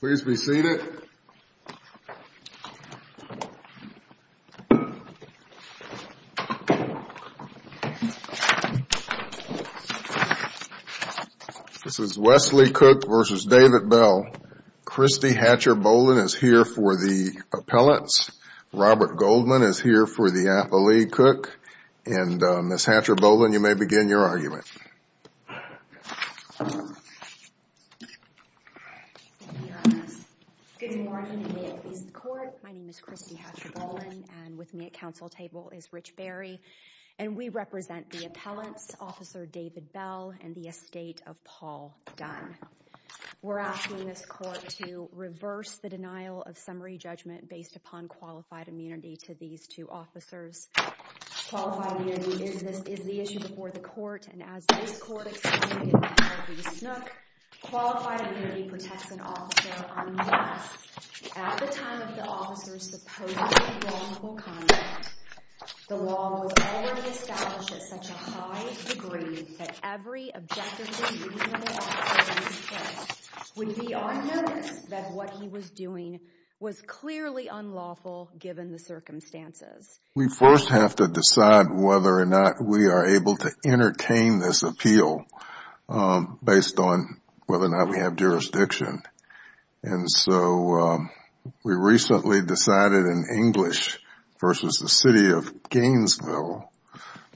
Please be seated. This is Wesley Cook v. David Bell. Christie Hatcher Boland is here for the appellants. Robert Goldman is here for the appellate cook. And Ms. Hatcher Boland, you may begin your argument. Christie Hatcher Boland Good morning, and may it please the court. My name is Christie Hatcher Boland, and with me at council table is Rich Berry, and we represent the court to reverse the denial of summary judgment based upon qualified immunity to these two officers. Qualified immunity is the issue before the court, and as this court explained in the case of Lee Snook, qualified immunity protects an officer unless, at the time of the officer's supposedly wrongful conduct, the law was already established at such a high degree that every objectively reasonable officer in this case would be on notice that what he was doing was clearly unlawful given the circumstances. We first have to decide whether or not we are able to entertain this appeal based on whether or not we have jurisdiction. And so we recently decided in English v. the city of Gainesville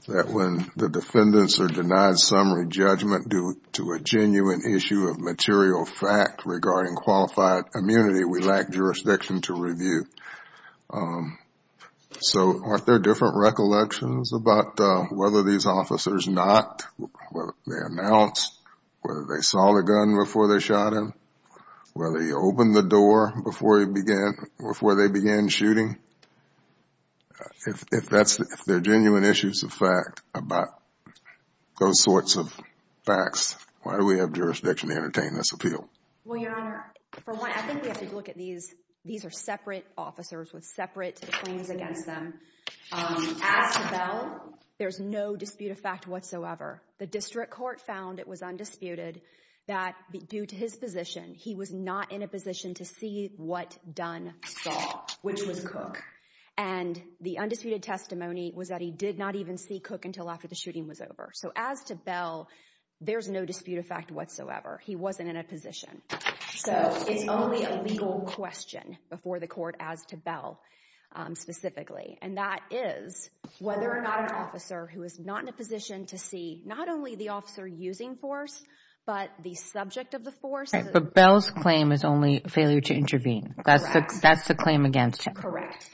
that when the defendants are denied summary judgment due to a genuine issue of material fact regarding qualified immunity, we lack jurisdiction to review. So are there different recollections about whether these officers not, whether they announced, whether they saw the gun before they shot him, whether he opened the door before they began shooting? If that's, if they're genuine issues of fact about those sorts of facts, why do we have jurisdiction to entertain this appeal? Well, Your Honor, for one, I think we have to look at these, these are separate officers with separate claims against them. As for Bell, there's no dispute of fact whatsoever. The district court found it was undisputed that due to his position, he was not in a And the undisputed testimony was that he did not even see Cook until after the shooting was over. So as to Bell, there's no dispute of fact whatsoever. He wasn't in a position. So it's only a legal question before the court as to Bell specifically. And that is whether or not an officer who is not in a position to see not only the officer using force, but the subject of the force. But Bell's claim is only failure to intervene. That's the claim against him. Correct.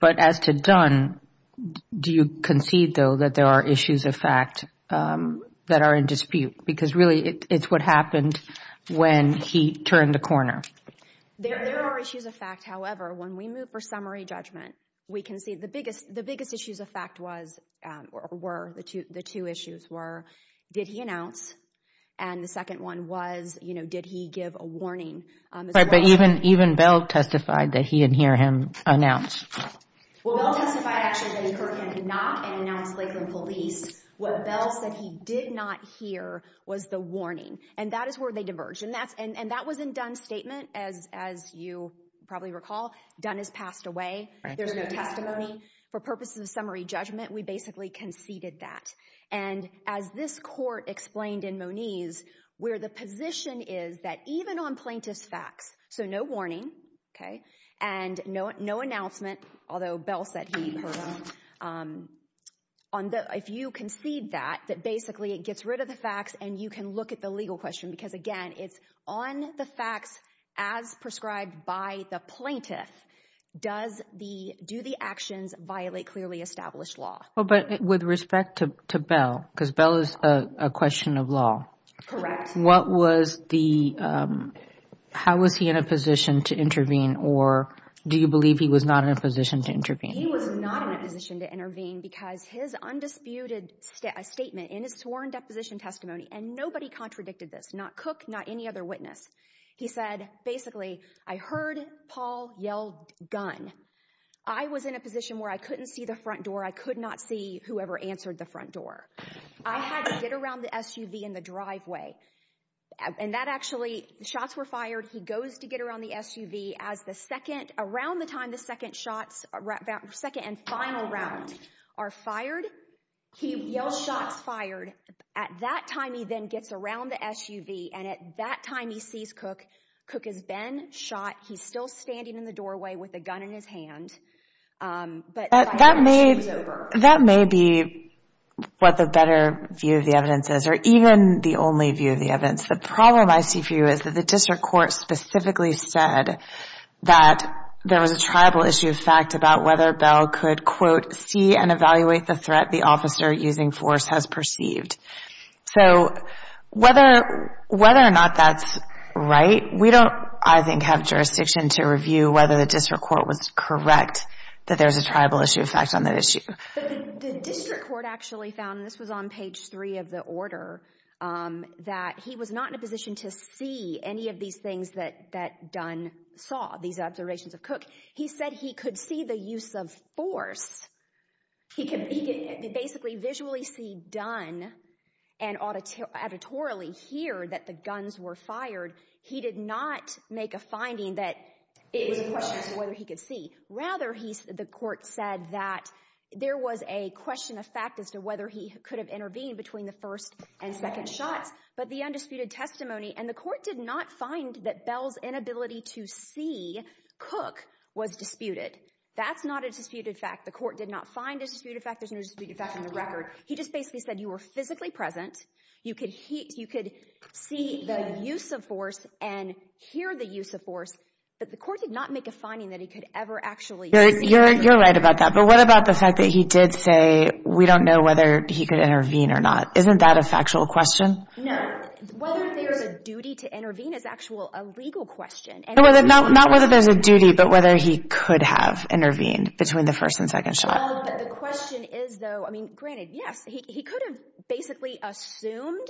But as to Dunn, do you concede, though, that there are issues of fact that are in dispute? Because really, it's what happened when he turned the corner. There are issues of fact. However, when we move for summary judgment, we can see the biggest, the biggest issues of fact was, were, the two issues were, did he announce? And the second one was, you know, did he give a warning? But even Bell testified that he didn't hear him announce. Well, Bell testified actually that he heard him knock and announce Lakeland Police. What Bell said he did not hear was the warning. And that is where they diverged. And that was in Dunn's statement. As you probably recall, Dunn has passed away. There's no testimony. For purposes of summary judgment, we basically conceded that. And as this court explained in Moniz, where the position is that even on plaintiff's facts, so no warning, okay, and no announcement, although Bell said he heard him. If you concede that, that basically it gets rid of the facts and you can look at the legal question because, again, it's on the facts as prescribed by the plaintiff. Do the actions violate clearly established law? Well, but with respect to Bell, because Bell is a question of law. Correct. What was the, how was he in a position to intervene, or do you believe he was not in a position to intervene? He was not in a position to intervene because his undisputed statement in his sworn deposition testimony, and nobody contradicted this, not Cook, not any other witness. He said, basically, I heard Paul yell, Gunn. I was in a position where I couldn't see the front door. I could not see whoever answered the front door. I had to get around the SUV in the driveway. And that actually, shots were fired. He goes to get around the SUV. As the second, around the time the second shots, second and final round are fired, he yells shots fired. At that time he then gets around the SUV, and at that time he sees Cook. Cook has been shot. He's still standing in the doorway with a gun in his hand. That may be what the better view of the evidence is, or even the only view of the evidence. The problem I see for you is that the district court specifically said that there was a tribal issue of fact about whether Bell could, quote, see and evaluate the threat the officer using force has perceived. So whether or not that's right, we don't, I think, have jurisdiction to review whether the district court was correct that there's a tribal issue of fact on that issue. But the district court actually found, and this was on page three of the order, that he was not in a position to see any of these things that Gunn saw, these observations of Cook. He said he could see the use of force. He could basically visually see Dunn and auditorily hear that the guns were fired. He did not make a finding that it was a question as to whether he could see. Rather, the court said that there was a question of fact as to whether he could have intervened between the first and second shots. But the undisputed testimony, and the court did not find that Bell's inability to see Cook was disputed. That's not a disputed fact. The court did not find a disputed fact. There's no disputed fact on the record. He just basically said you were physically present. You could see the use of force and hear the use of force. But the court did not make a finding that he could ever actually see. You're right about that. But what about the fact that he did say we don't know whether he could intervene or not? Isn't that a factual question? No. Whether there's a duty to intervene is actually a legal question. Not whether there's a duty, but whether he could have intervened between the first and second shot. Well, the question is, though, I mean, granted, yes, he could have basically assumed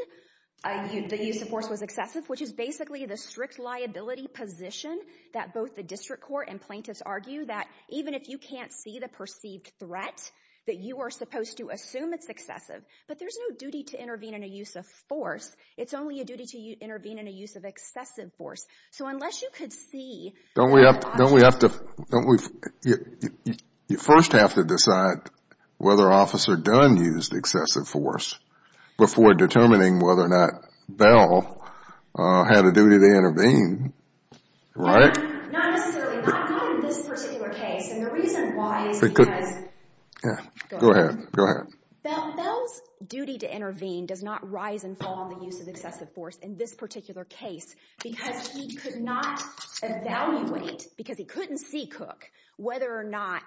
the use of force was excessive, which is basically the strict liability position that both the district court and plaintiffs argue, that even if you can't see the perceived threat, that you are supposed to assume it's excessive. But there's no duty to intervene in a use of force. It's only a duty to intervene in a use of excessive force. So unless you could see... Don't we have to... You first have to decide whether Officer Dunn used excessive force before determining whether or not Bell had a duty to intervene, right? Not necessarily. Not in this particular case. And the reason why is because... Go ahead. Go ahead. Bell's duty to intervene does not rise and fall in the use of excessive force in this particular case because he could not evaluate, because he couldn't see Cook, whether or not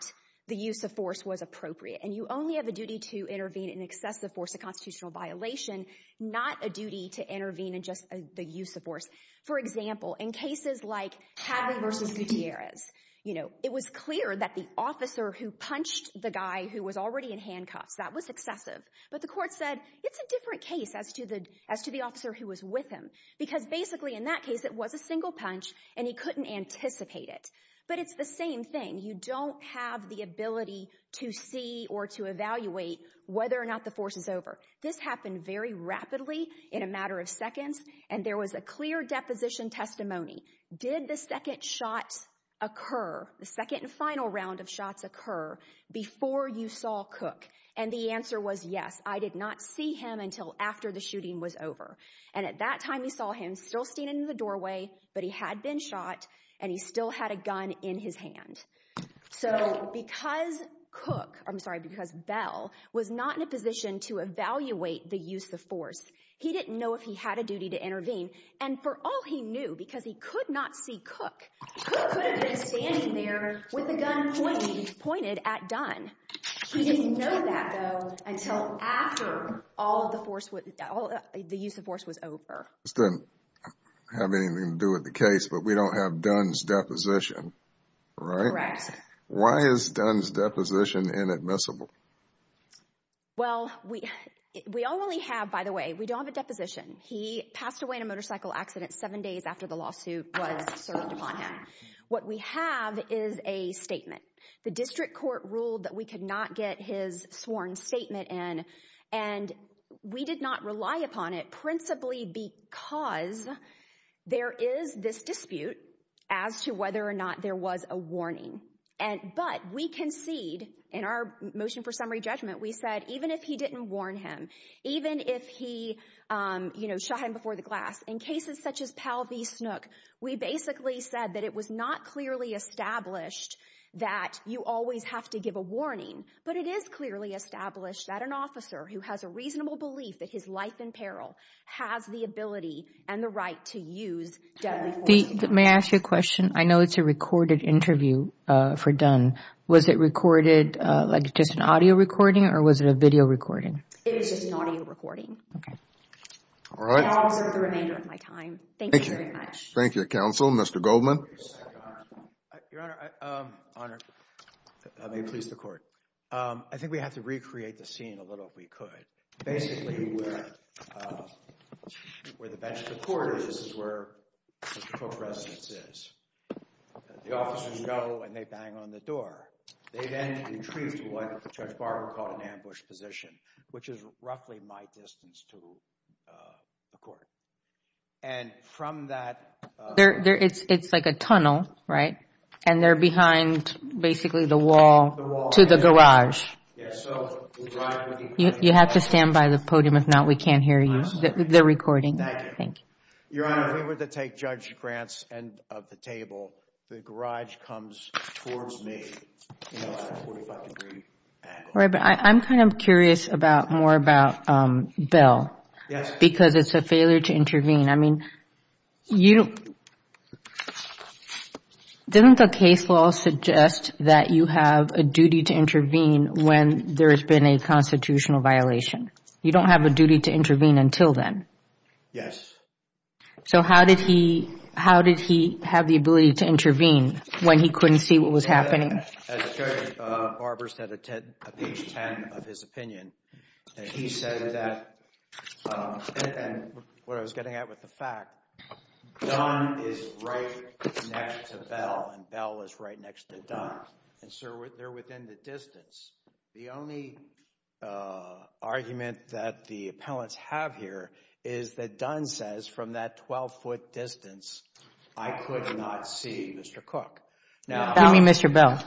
the use of force was appropriate. And you only have a duty to intervene in excessive force, a constitutional violation, not a duty to intervene in just the use of force. For example, in cases like Hadley v. Gutierrez, it was clear that the officer who punched the guy who was already in handcuffs, that was excessive. But the court said it's a different case as to the officer who was with him because basically in that case it was a single punch and he couldn't anticipate it. But it's the same thing. You don't have the ability to see or to evaluate whether or not the force is over. This happened very rapidly in a matter of seconds, and there was a clear deposition testimony. Did the second shot occur, the second and final round of shots occur, before you saw Cook? And the answer was yes. I did not see him until after the shooting was over. And at that time we saw him still standing in the doorway, but he had been shot, and he still had a gun in his hand. So because Cook, I'm sorry, because Bell, was not in a position to evaluate the use of force, he didn't know if he had a duty to intervene. And for all he knew, because he could not see Cook, Cook could have been standing there with a gun pointed at Dunn. He didn't know that, though, until after the use of force was over. This doesn't have anything to do with the case, but we don't have Dunn's deposition, right? Correct. Why is Dunn's deposition inadmissible? Well, we only have, by the way, we don't have a deposition. He passed away in a motorcycle accident seven days after the lawsuit was served upon him. What we have is a statement. The district court ruled that we could not get his sworn statement in, and we did not rely upon it, principally because there is this dispute as to whether or not there was a warning. But we concede, in our motion for summary judgment, we said even if he didn't warn him, even if he shot him before the glass, in cases such as Powell v. Snook, we basically said that it was not clearly established that you always have to give a warning, but it is clearly established that an officer who has a reasonable belief that his life in peril has the ability and the right to use deadly force. May I ask you a question? I know it's a recorded interview for Dunn. Was it recorded like just an audio recording, or was it a video recording? It was just an audio recording. Okay. All right. I'll reserve the remainder of my time. Thank you very much. Thank you, Counsel. Mr. Goldman? Your Honor, may it please the Court. I think we have to recreate the scene a little if we could. Basically, where the bench of the court is is where Mr. Cook's residence is. The officers go, and they bang on the door. They then retreat to what Judge Barber called an ambush position, which is roughly my distance to the Court. And from that... It's like a tunnel, right? And they're behind basically the wall to the garage. Yes. You have to stand by the podium. If not, we can't hear you. They're recording. Thank you. Your Honor, if we were to take Judge Grant's end of the table, the garage comes towards me. I'm kind of curious more about Bill. Yes. Because it's a failure to intervene. Doesn't the case law suggest that you have a duty to intervene when there has been a constitutional violation? You don't have a duty to intervene until then? Yes. So how did he have the ability to intervene when he couldn't see what was happening? As Judge Barber said at page 10 of his opinion, he said that... And what I was getting at with the fact, Dunn is right next to Bell, and Bell is right next to Dunn. And so they're within the distance. The only argument that the appellants have here is that Dunn says, from that 12-foot distance, I could not see Mr. Cook. Now... Excuse me, Mr. Bell.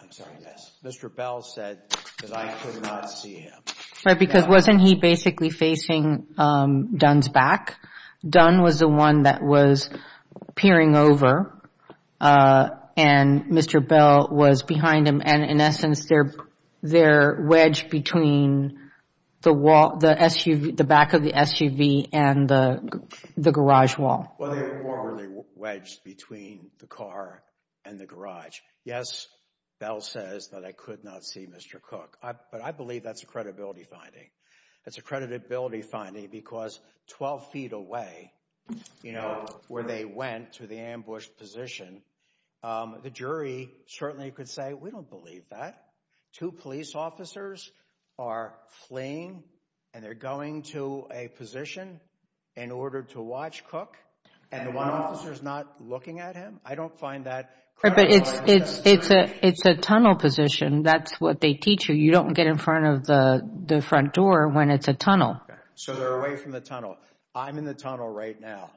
I'm sorry. Yes. Mr. Bell said that I could not see him. Right, because wasn't he basically facing Dunn's back? Dunn was the one that was peering over, and Mr. Bell was behind him. And in essence, they're wedged between the back of the SUV and the garage wall. Well, they're formally wedged between the car and the garage. Yes, Bell says that I could not see Mr. Cook. But I believe that's a credibility finding. It's a credibility finding because 12 feet away, you know, where they went to the ambushed position, the jury certainly could say, we don't believe that. Two police officers are fleeing, and they're going to a position in order to watch Cook, and one officer is not looking at him. I don't find that credibility. But it's a tunnel position. That's what they teach you. You don't get in front of the front door when it's a tunnel. So they're away from the tunnel. I'm in the tunnel right now.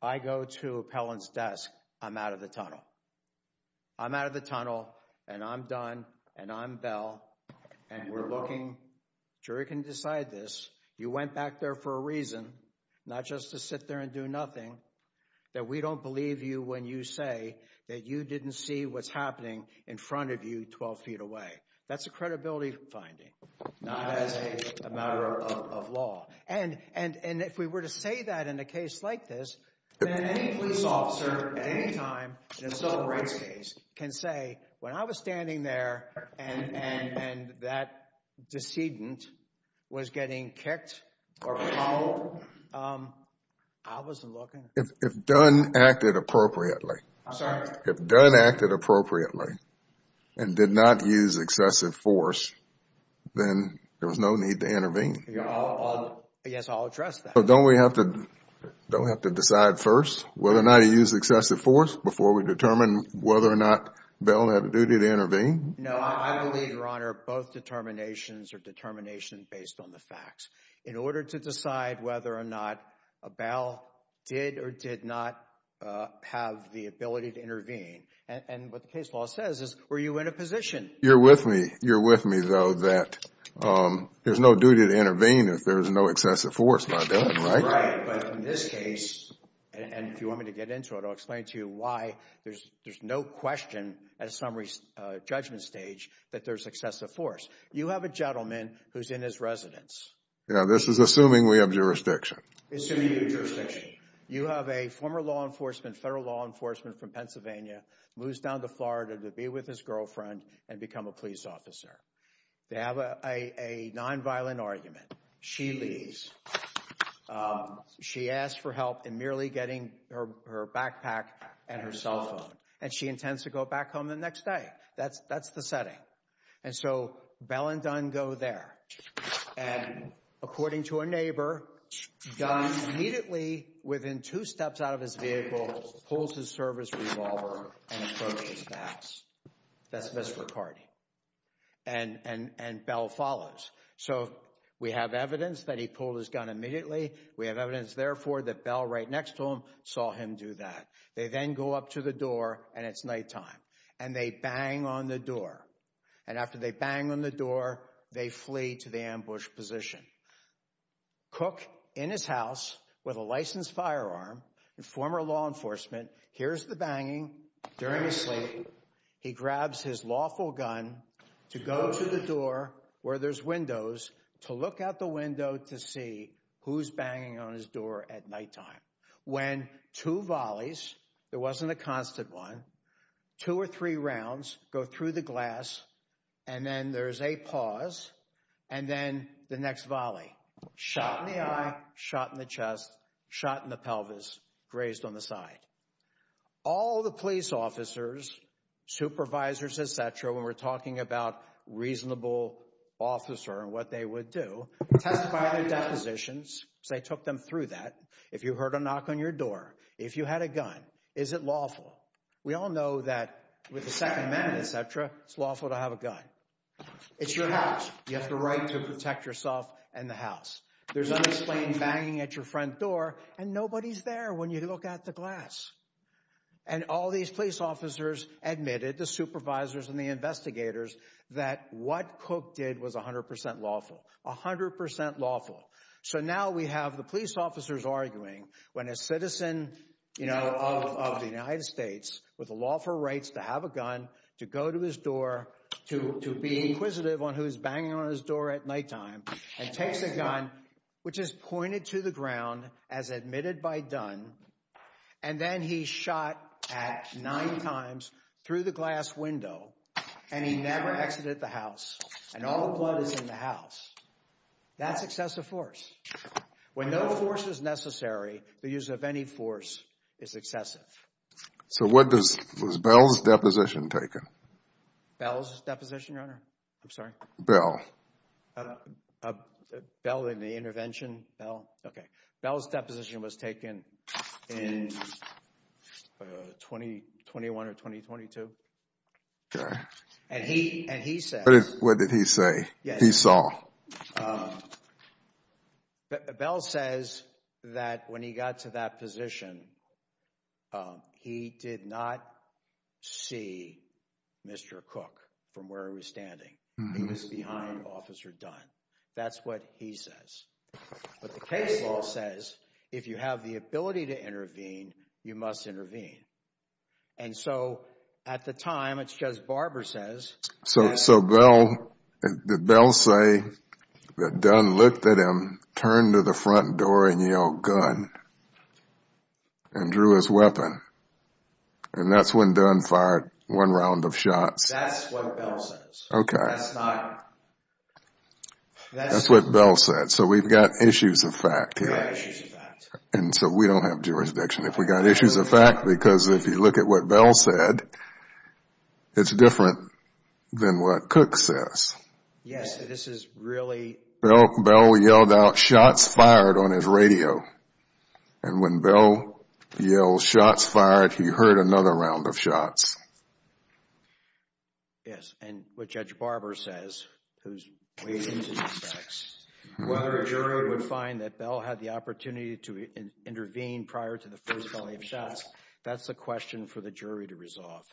I go to appellant's desk. I'm out of the tunnel. I'm out of the tunnel, and I'm done, and I'm Bell, and we're looking. Jury can decide this. You went back there for a reason, not just to sit there and do nothing, that we don't believe you when you say that you didn't see what's happening in front of you 12 feet away. That's a credibility finding, not as a matter of law. And if we were to say that in a case like this, then any police officer at any time in a civil rights case can say, when I was standing there and that decedent was getting kicked or followed, I wasn't looking. If Dunn acted appropriately. I'm sorry? If Dunn acted appropriately and did not use excessive force, then there was no need to intervene. Yes, I'll address that. Don't we have to decide first whether or not he used excessive force before we determine whether or not Bell had a duty to intervene? No, I believe, Your Honor, both determinations are determinations based on the facts. In order to decide whether or not Bell did or did not have the ability to intervene, and what the case law says is, were you in a position? You're with me. You're with me, though, that there's no duty to intervene if there's no excessive force by Dunn, right? Right, but in this case, and if you want me to get into it, I'll explain to you why there's no question at a summary judgment stage that there's excessive force. You have a gentleman who's in his residence. Yeah, this is assuming we have jurisdiction. Assuming you have jurisdiction. You have a former law enforcement, federal law enforcement from Pennsylvania, moves down to Florida to be with his girlfriend and become a police officer. They have a nonviolent argument. She leaves. She asks for help in merely getting her backpack and her cell phone, and she intends to go back home the next day. That's the setting, and so Bell and Dunn go there. And according to a neighbor, Dunn immediately, within two steps out of his vehicle, pulls his service revolver and approaches Max. That's Mr. McCarty, and Bell follows. So we have evidence that he pulled his gun immediately. We have evidence, therefore, that Bell right next to him saw him do that. They then go up to the door, and it's nighttime, and they bang on the door. And after they bang on the door, they flee to the ambush position. Cook, in his house with a licensed firearm and former law enforcement, hears the banging. During his sleep, he grabs his lawful gun to go to the door where there's windows to look out the window to see who's banging on his door at nighttime. When two volleys, there wasn't a constant one, two or three rounds go through the glass, and then there's a pause, and then the next volley. Shot in the eye, shot in the chest, shot in the pelvis, grazed on the side. All the police officers, supervisors, et cetera, when we're talking about reasonable officer and what they would do, testify their depositions. So they took them through that. If you heard a knock on your door, if you had a gun, is it lawful? We all know that with the Second Amendment, et cetera, it's lawful to have a gun. It's your house. You have the right to protect yourself and the house. There's unexplained banging at your front door, and nobody's there when you look out the glass. And all these police officers admitted, the supervisors and the investigators, that what Cook did was 100 percent lawful, 100 percent lawful. So now we have the police officers arguing when a citizen of the United States with a lawful right to have a gun to go to his door, to be inquisitive on who's banging on his door at nighttime, and takes a gun, which is pointed to the ground as admitted by Dunn, and then he shot at nine times through the glass window, and he never exited the house, and all the blood is in the house. That's excessive force. When no force is necessary, the use of any force is excessive. So what does, was Bell's deposition taken? Bell's deposition, Your Honor? I'm sorry? Bell. Bell in the intervention? Bell? Okay. Bell's deposition was taken in 2021 or 2022. Okay. And he says... What did he say? Yes. What did he say? What he saw. Bell says that when he got to that position, he did not see Mr. Cook from where he was standing. He was behind Officer Dunn. That's what he says. But the case law says if you have the ability to intervene, you must intervene. And so at the time, it's just, Barber says... So Bell, did Bell say that Dunn looked at him, turned to the front door and yelled, gun, and drew his weapon, and that's when Dunn fired one round of shots? That's what Bell says. Okay. That's not... That's what Bell said. So we've got issues of fact here. We have issues of fact. And so we don't have jurisdiction. If we got issues of fact, because if you look at what Bell said, it's different than what Cook says. Yes. This is really... Bell yelled out, shots fired, on his radio. And when Bell yelled shots fired, he heard another round of shots. Yes. And what Judge Barber says, who's weighed into these facts, whether a jury would find that Bell had the opportunity to intervene prior to the first volley of shots, that's a question for the jury to resolve.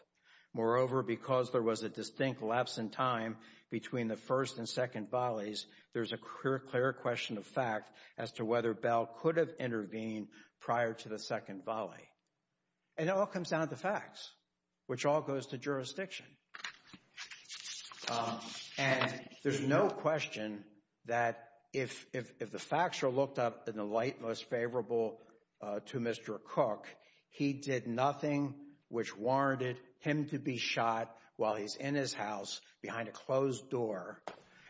Moreover, because there was a distinct lapse in time between the first and second volleys, there's a clear question of fact as to whether Bell could have intervened prior to the second volley. And it all comes down to facts, which all goes to jurisdiction. And there's no question that if the facts are looked up in the light most favorable to Mr. Cook, he did nothing which warranted him to be shot while he's in his house behind a closed door,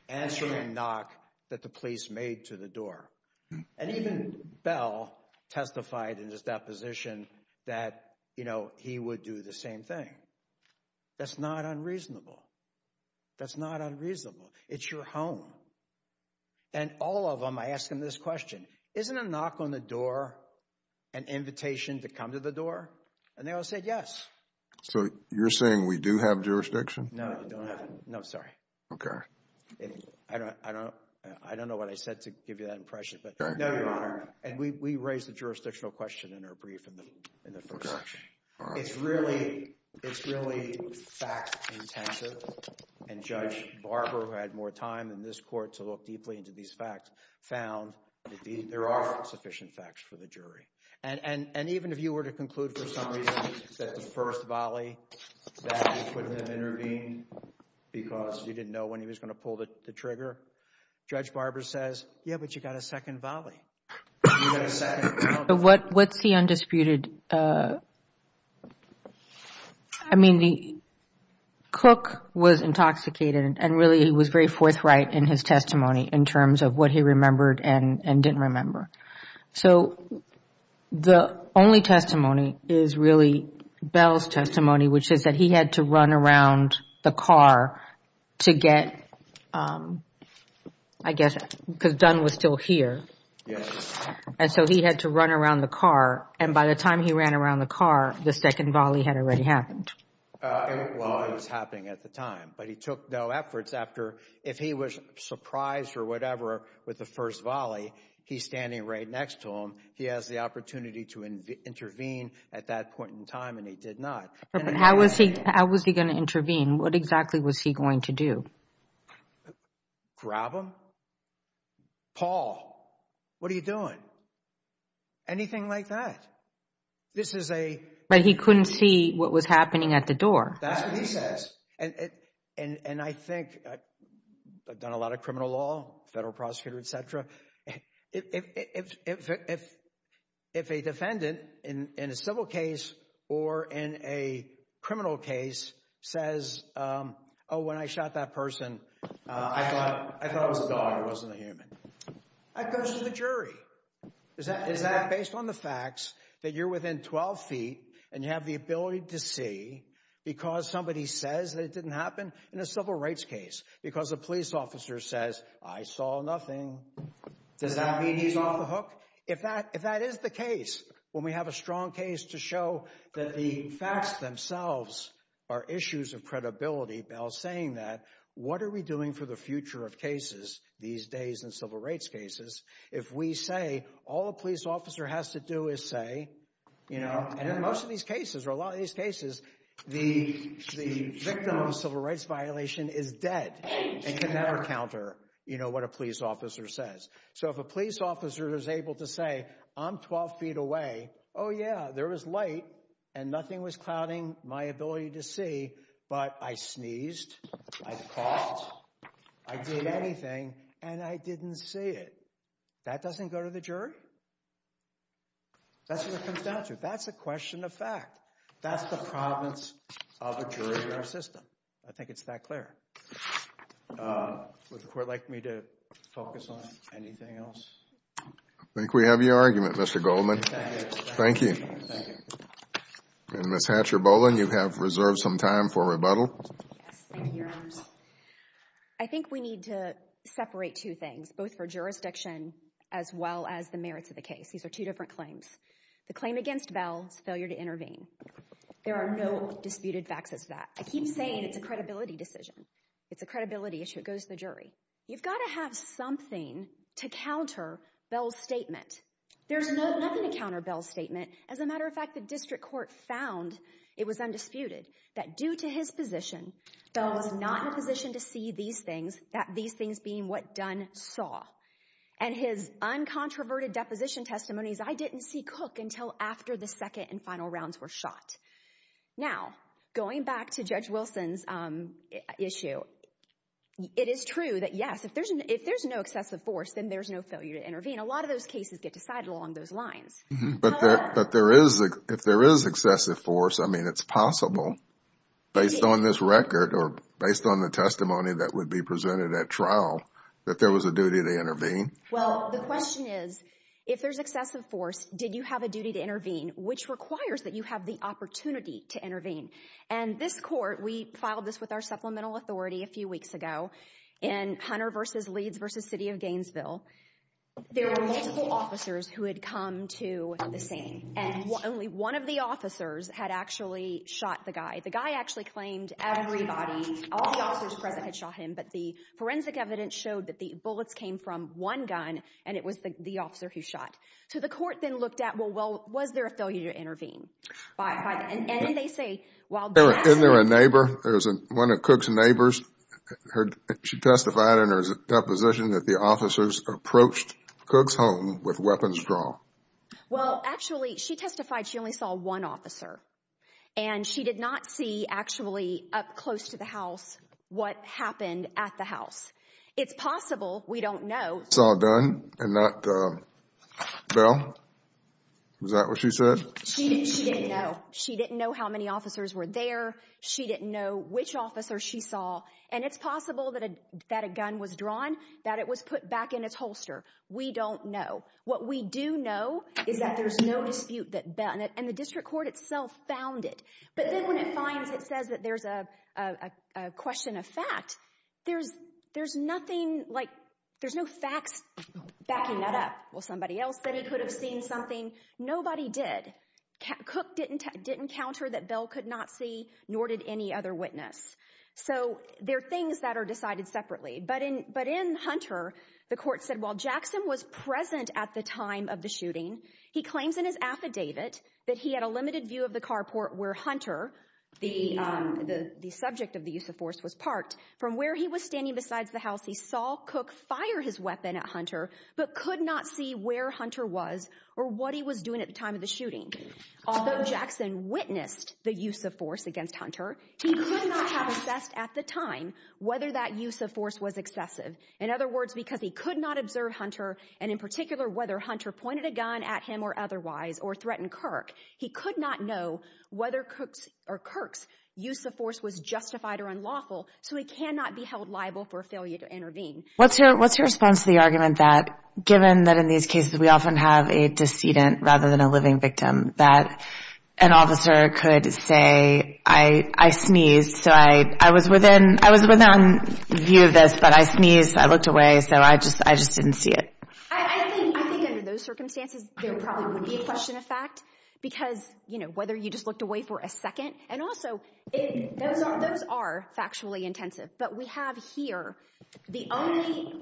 answering a knock that the police made to the door. And even Bell testified in his deposition that, you know, he would do the same thing. That's not unreasonable. That's not unreasonable. It's your home. And all of them, I ask them this question, isn't a knock on the door an invitation to come to the door? And they all said yes. So you're saying we do have jurisdiction? No, we don't have. No, sorry. Okay. I don't know what I said to give you that impression, but no, Your Honor. And we raised the jurisdictional question in our brief in the first section. It's really fact-intensive. And Judge Barber, who had more time in this court to look deeply into these facts, found that there are sufficient facts for the jury. And even if you were to conclude for some reason that the first volley, that he couldn't have intervened because he didn't know when he was going to pull the trigger, Judge Barber says, yeah, but you've got a second volley. You've got a second. What's the undisputed? I mean, Cook was intoxicated, and really he was very forthright in his testimony in terms of what he remembered and didn't remember. So the only testimony is really Bell's testimony, which is that he had to run around the car to get, I guess, because Dunn was still here. Yes. And so he had to run around the car. And by the time he ran around the car, the second volley had already happened. Well, it was happening at the time, but he took no efforts after. If he was surprised or whatever with the first volley, he's standing right next to him. He has the opportunity to intervene at that point in time, and he did not. How was he going to intervene? What exactly was he going to do? Grab him? Paul, what are you doing? Anything like that. This is a— But he couldn't see what was happening at the door. That's what he says. And I think—I've done a lot of criminal law, federal prosecutor, et cetera. If a defendant in a civil case or in a criminal case says, oh, when I shot that person, I thought it was a dog. It wasn't a human. I'd go to the jury. Is that based on the facts that you're within 12 feet and you have the ability to see because somebody says that it didn't happen in a civil rights case because a police officer says, I saw nothing? Does that mean he's off the hook? If that is the case, when we have a strong case to show that the facts themselves are issues of credibility, Bell saying that, what are we doing for the future of cases these days in civil rights cases if we say all a police officer has to do is say— and in most of these cases or a lot of these cases, the victim of a civil rights violation is dead and can never counter what a police officer says. So if a police officer is able to say, I'm 12 feet away. Oh, yeah, there was light and nothing was clouding my ability to see, but I sneezed, I coughed, I did anything, and I didn't see it. That doesn't go to the jury. That's what it comes down to. That's a question of fact. That's the province of a jury in our system. I think it's that clear. Would the Court like me to focus on anything else? I think we have your argument, Mr. Goldman. Thank you. And Ms. Hatcher-Bolin, you have reserved some time for rebuttal. Thank you, Your Honors. I think we need to separate two things, both for jurisdiction as well as the merits of the case. These are two different claims. The claim against Bell is failure to intervene. There are no disputed facts as to that. I keep saying it's a credibility decision. It's a credibility issue. It goes to the jury. You've got to have something to counter Bell's statement. There's nothing to counter Bell's statement. As a matter of fact, the District Court found it was undisputed that due to his position, Bell was not in a position to see these things, these things being what Dunn saw. And his uncontroverted deposition testimonies, I didn't see cook until after the second and final rounds were shot. Now, going back to Judge Wilson's issue, it is true that, yes, if there's no excessive force, then there's no failure to intervene. A lot of those cases get decided along those lines. But if there is excessive force, I mean, it's possible based on this record or based on the testimony that would be presented at trial that there was a duty to intervene. Well, the question is, if there's excessive force, did you have a duty to intervene, which requires that you have the opportunity to intervene? And this court, we filed this with our supplemental authority a few weeks ago, in Hunter v. Leeds v. City of Gainesville. There were multiple officers who had come to the scene, and only one of the officers had actually shot the guy. The guy actually claimed everybody, all the officers present had shot him, but the forensic evidence showed that the bullets came from one gun, and it was the officer who shot. So the court then looked at, well, was there a failure to intervene? And they say, well, that's true. Isn't there a neighbor? One of Cook's neighbors, she testified in her deposition that the officers approached Cook's home with weapons drawn. Well, actually, she testified she only saw one officer, and she did not see actually up close to the house what happened at the house. It's possible. We don't know. It's all done? And that, Belle, was that what she said? She didn't know. She didn't know how many officers were there. She didn't know which officers she saw. And it's possible that a gun was drawn, that it was put back in its holster. We don't know. What we do know is that there's no dispute that Belle and the district court itself found it. But then when it finds it says that there's a question of fact, there's nothing like there's no facts backing that up. Well, somebody else said he could have seen something. Nobody did. Cook didn't counter that Belle could not see, nor did any other witness. So they're things that are decided separately. But in Hunter, the court said, while Jackson was present at the time of the shooting, he claims in his affidavit that he had a limited view of the carport where Hunter, the subject of the use of force, was parked. From where he was standing besides the house, he saw Cook fire his weapon at Hunter but could not see where Hunter was or what he was doing at the time of the shooting. Although Jackson witnessed the use of force against Hunter, he could not have assessed at the time whether that use of force was excessive. In other words, because he could not observe Hunter, and in particular whether Hunter pointed a gun at him or otherwise or threatened Kirk, he could not know whether Kirk's use of force was justified or unlawful, so he cannot be held liable for failure to intervene. What's your response to the argument that, given that in these cases we often have a decedent rather than a living victim, that an officer could say, I sneezed, so I was within view of this, but I sneezed, I looked away, so I just didn't see it? I think under those circumstances there probably would be a question of fact because, you know, whether you just looked away for a second, and also those are factually intensive, but we have here the only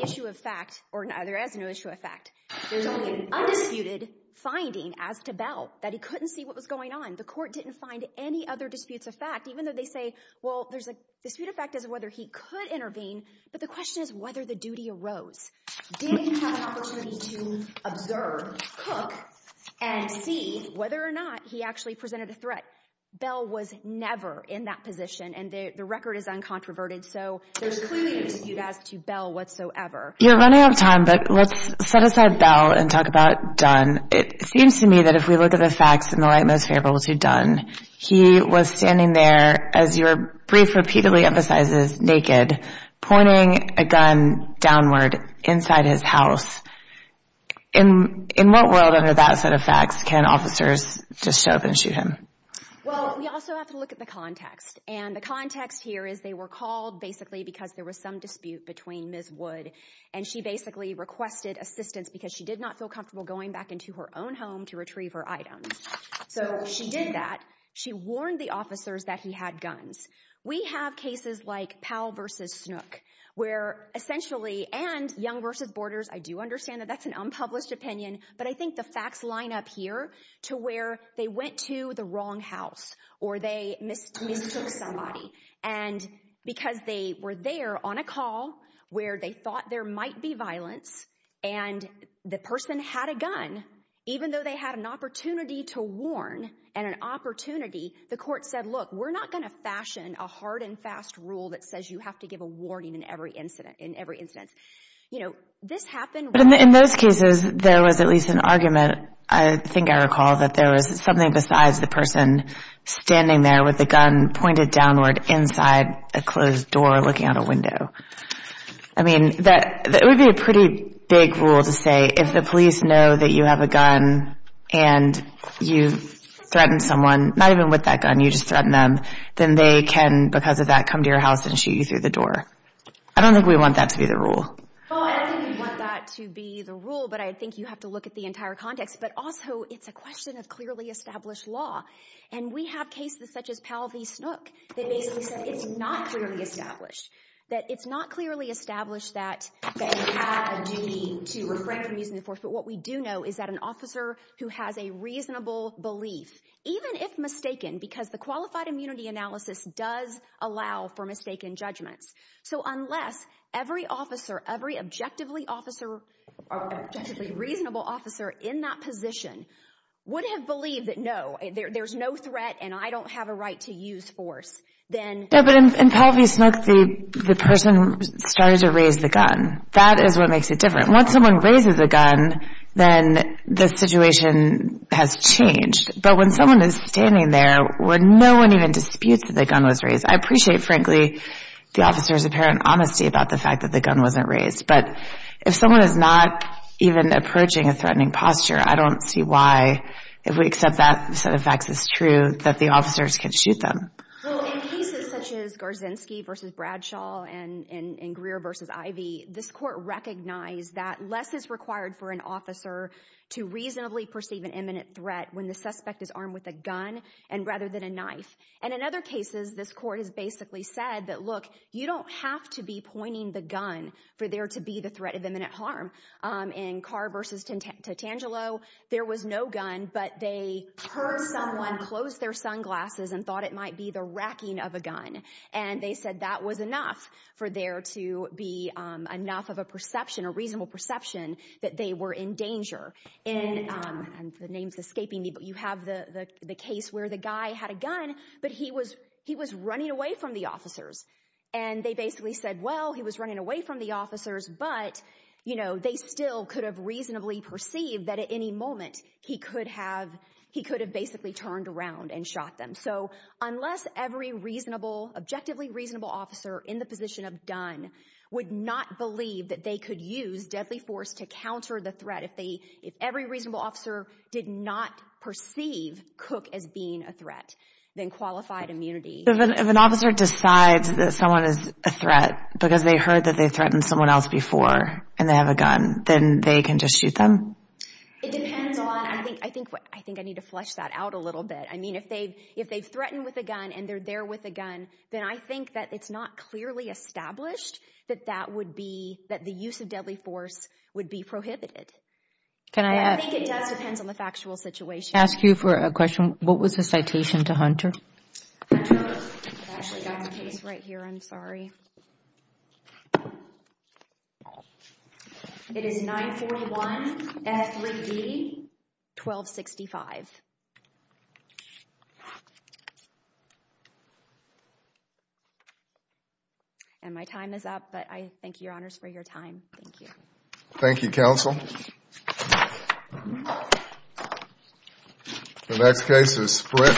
issue of fact, or there is no issue of fact, there's only an undisputed finding as to Bell that he couldn't see what was going on. The court didn't find any other disputes of fact, even though they say, well, there's a dispute of fact as to whether he could intervene, but the question is whether the duty arose. Did he have an opportunity to observe, cook, and see whether or not he actually presented a threat? Bell was never in that position, and the record is uncontroverted, so there's clearly a dispute as to Bell whatsoever. You're running out of time, but let's set aside Bell and talk about Dunn. It seems to me that if we look at the facts in the light most favorable to Dunn, he was standing there, as your brief repeatedly emphasizes, naked, pointing a gun downward inside his house. In what world under that set of facts can officers just show up and shoot him? Well, we also have to look at the context, and the context here is they were called basically because there was some dispute between Ms. Wood, and she basically requested assistance because she did not feel comfortable going back into her own home to retrieve her items. So she did that. She warned the officers that he had guns. We have cases like Powell v. Snook where essentially, and Young v. Borders, I do understand that that's an unpublished opinion, but I think the facts line up here to where they went to the wrong house or they mistook somebody, and because they were there on a call where they thought there might be violence and the person had a gun, even though they had an opportunity to warn and an opportunity, the court said, look, we're not going to fashion a hard and fast rule that says you have to give a warning in every incident. You know, this happened. But in those cases, there was at least an argument, I think I recall, that there was something besides the person standing there with a gun pointed downward inside a closed door looking out a window. I mean, that would be a pretty big rule to say if the police know that you have a gun and you threaten someone, not even with that gun, you just threaten them, then they can, because of that, come to your house and shoot you through the door. I don't think we want that to be the rule. Well, I don't think we want that to be the rule, but I think you have to look at the entire context. But also it's a question of clearly established law. And we have cases such as Powell v. Snook that basically said it's not clearly established, that it's not clearly established that you have a duty to refrain from using the force. But what we do know is that an officer who has a reasonable belief, even if mistaken, because the qualified immunity analysis does allow for mistaken judgments. So unless every officer, every objectively reasonable officer in that position would have believed that, no, there's no threat and I don't have a right to use force, then... Yeah, but in Powell v. Snook, the person started to raise the gun. That is what makes it different. Once someone raises a gun, then the situation has changed. But when someone is standing there where no one even disputes that the gun was raised, I appreciate, frankly, the officer's apparent honesty about the fact that the gun wasn't raised. But if someone is not even approaching a threatening posture, I don't see why, if we accept that set of facts is true, that the officers can shoot them. Well, in cases such as Garzinski v. Bradshaw and Greer v. Ivey, this court recognized that less is required for an officer to reasonably perceive an imminent threat when the suspect is armed with a gun rather than a knife. And in other cases, this court has basically said that, look, you don't have to be pointing the gun for there to be the threat of imminent harm. In Carr v. Tangelo, there was no gun, but they heard someone close their sunglasses and they said that was enough for there to be enough of a perception, a reasonable perception, that they were in danger. And the name's escaping me, but you have the case where the guy had a gun, but he was running away from the officers. And they basically said, well, he was running away from the officers, but they still could have reasonably perceived that at any moment he could have basically turned around and shot them. So unless every reasonable, objectively reasonable officer in the position of Dunn would not believe that they could use deadly force to counter the threat, if every reasonable officer did not perceive Cook as being a threat, then qualified immunity. If an officer decides that someone is a threat because they heard that they threatened someone else before and they have a gun, then they can just shoot them? It depends on, I think I need to flesh that out a little bit. I mean, if they've threatened with a gun and they're there with a gun, then I think that it's not clearly established that that would be, that the use of deadly force would be prohibited. And I think it does depend on the factual situation. Can I ask you for a question? What was the citation to Hunter? Hunter, I've actually got the case right here. I'm sorry. It is 941 F. Lee D. 1265. And my time is up, but I thank you, Your Honors, for your time. Thank you. Thank you, Counsel. The next case is Sprint.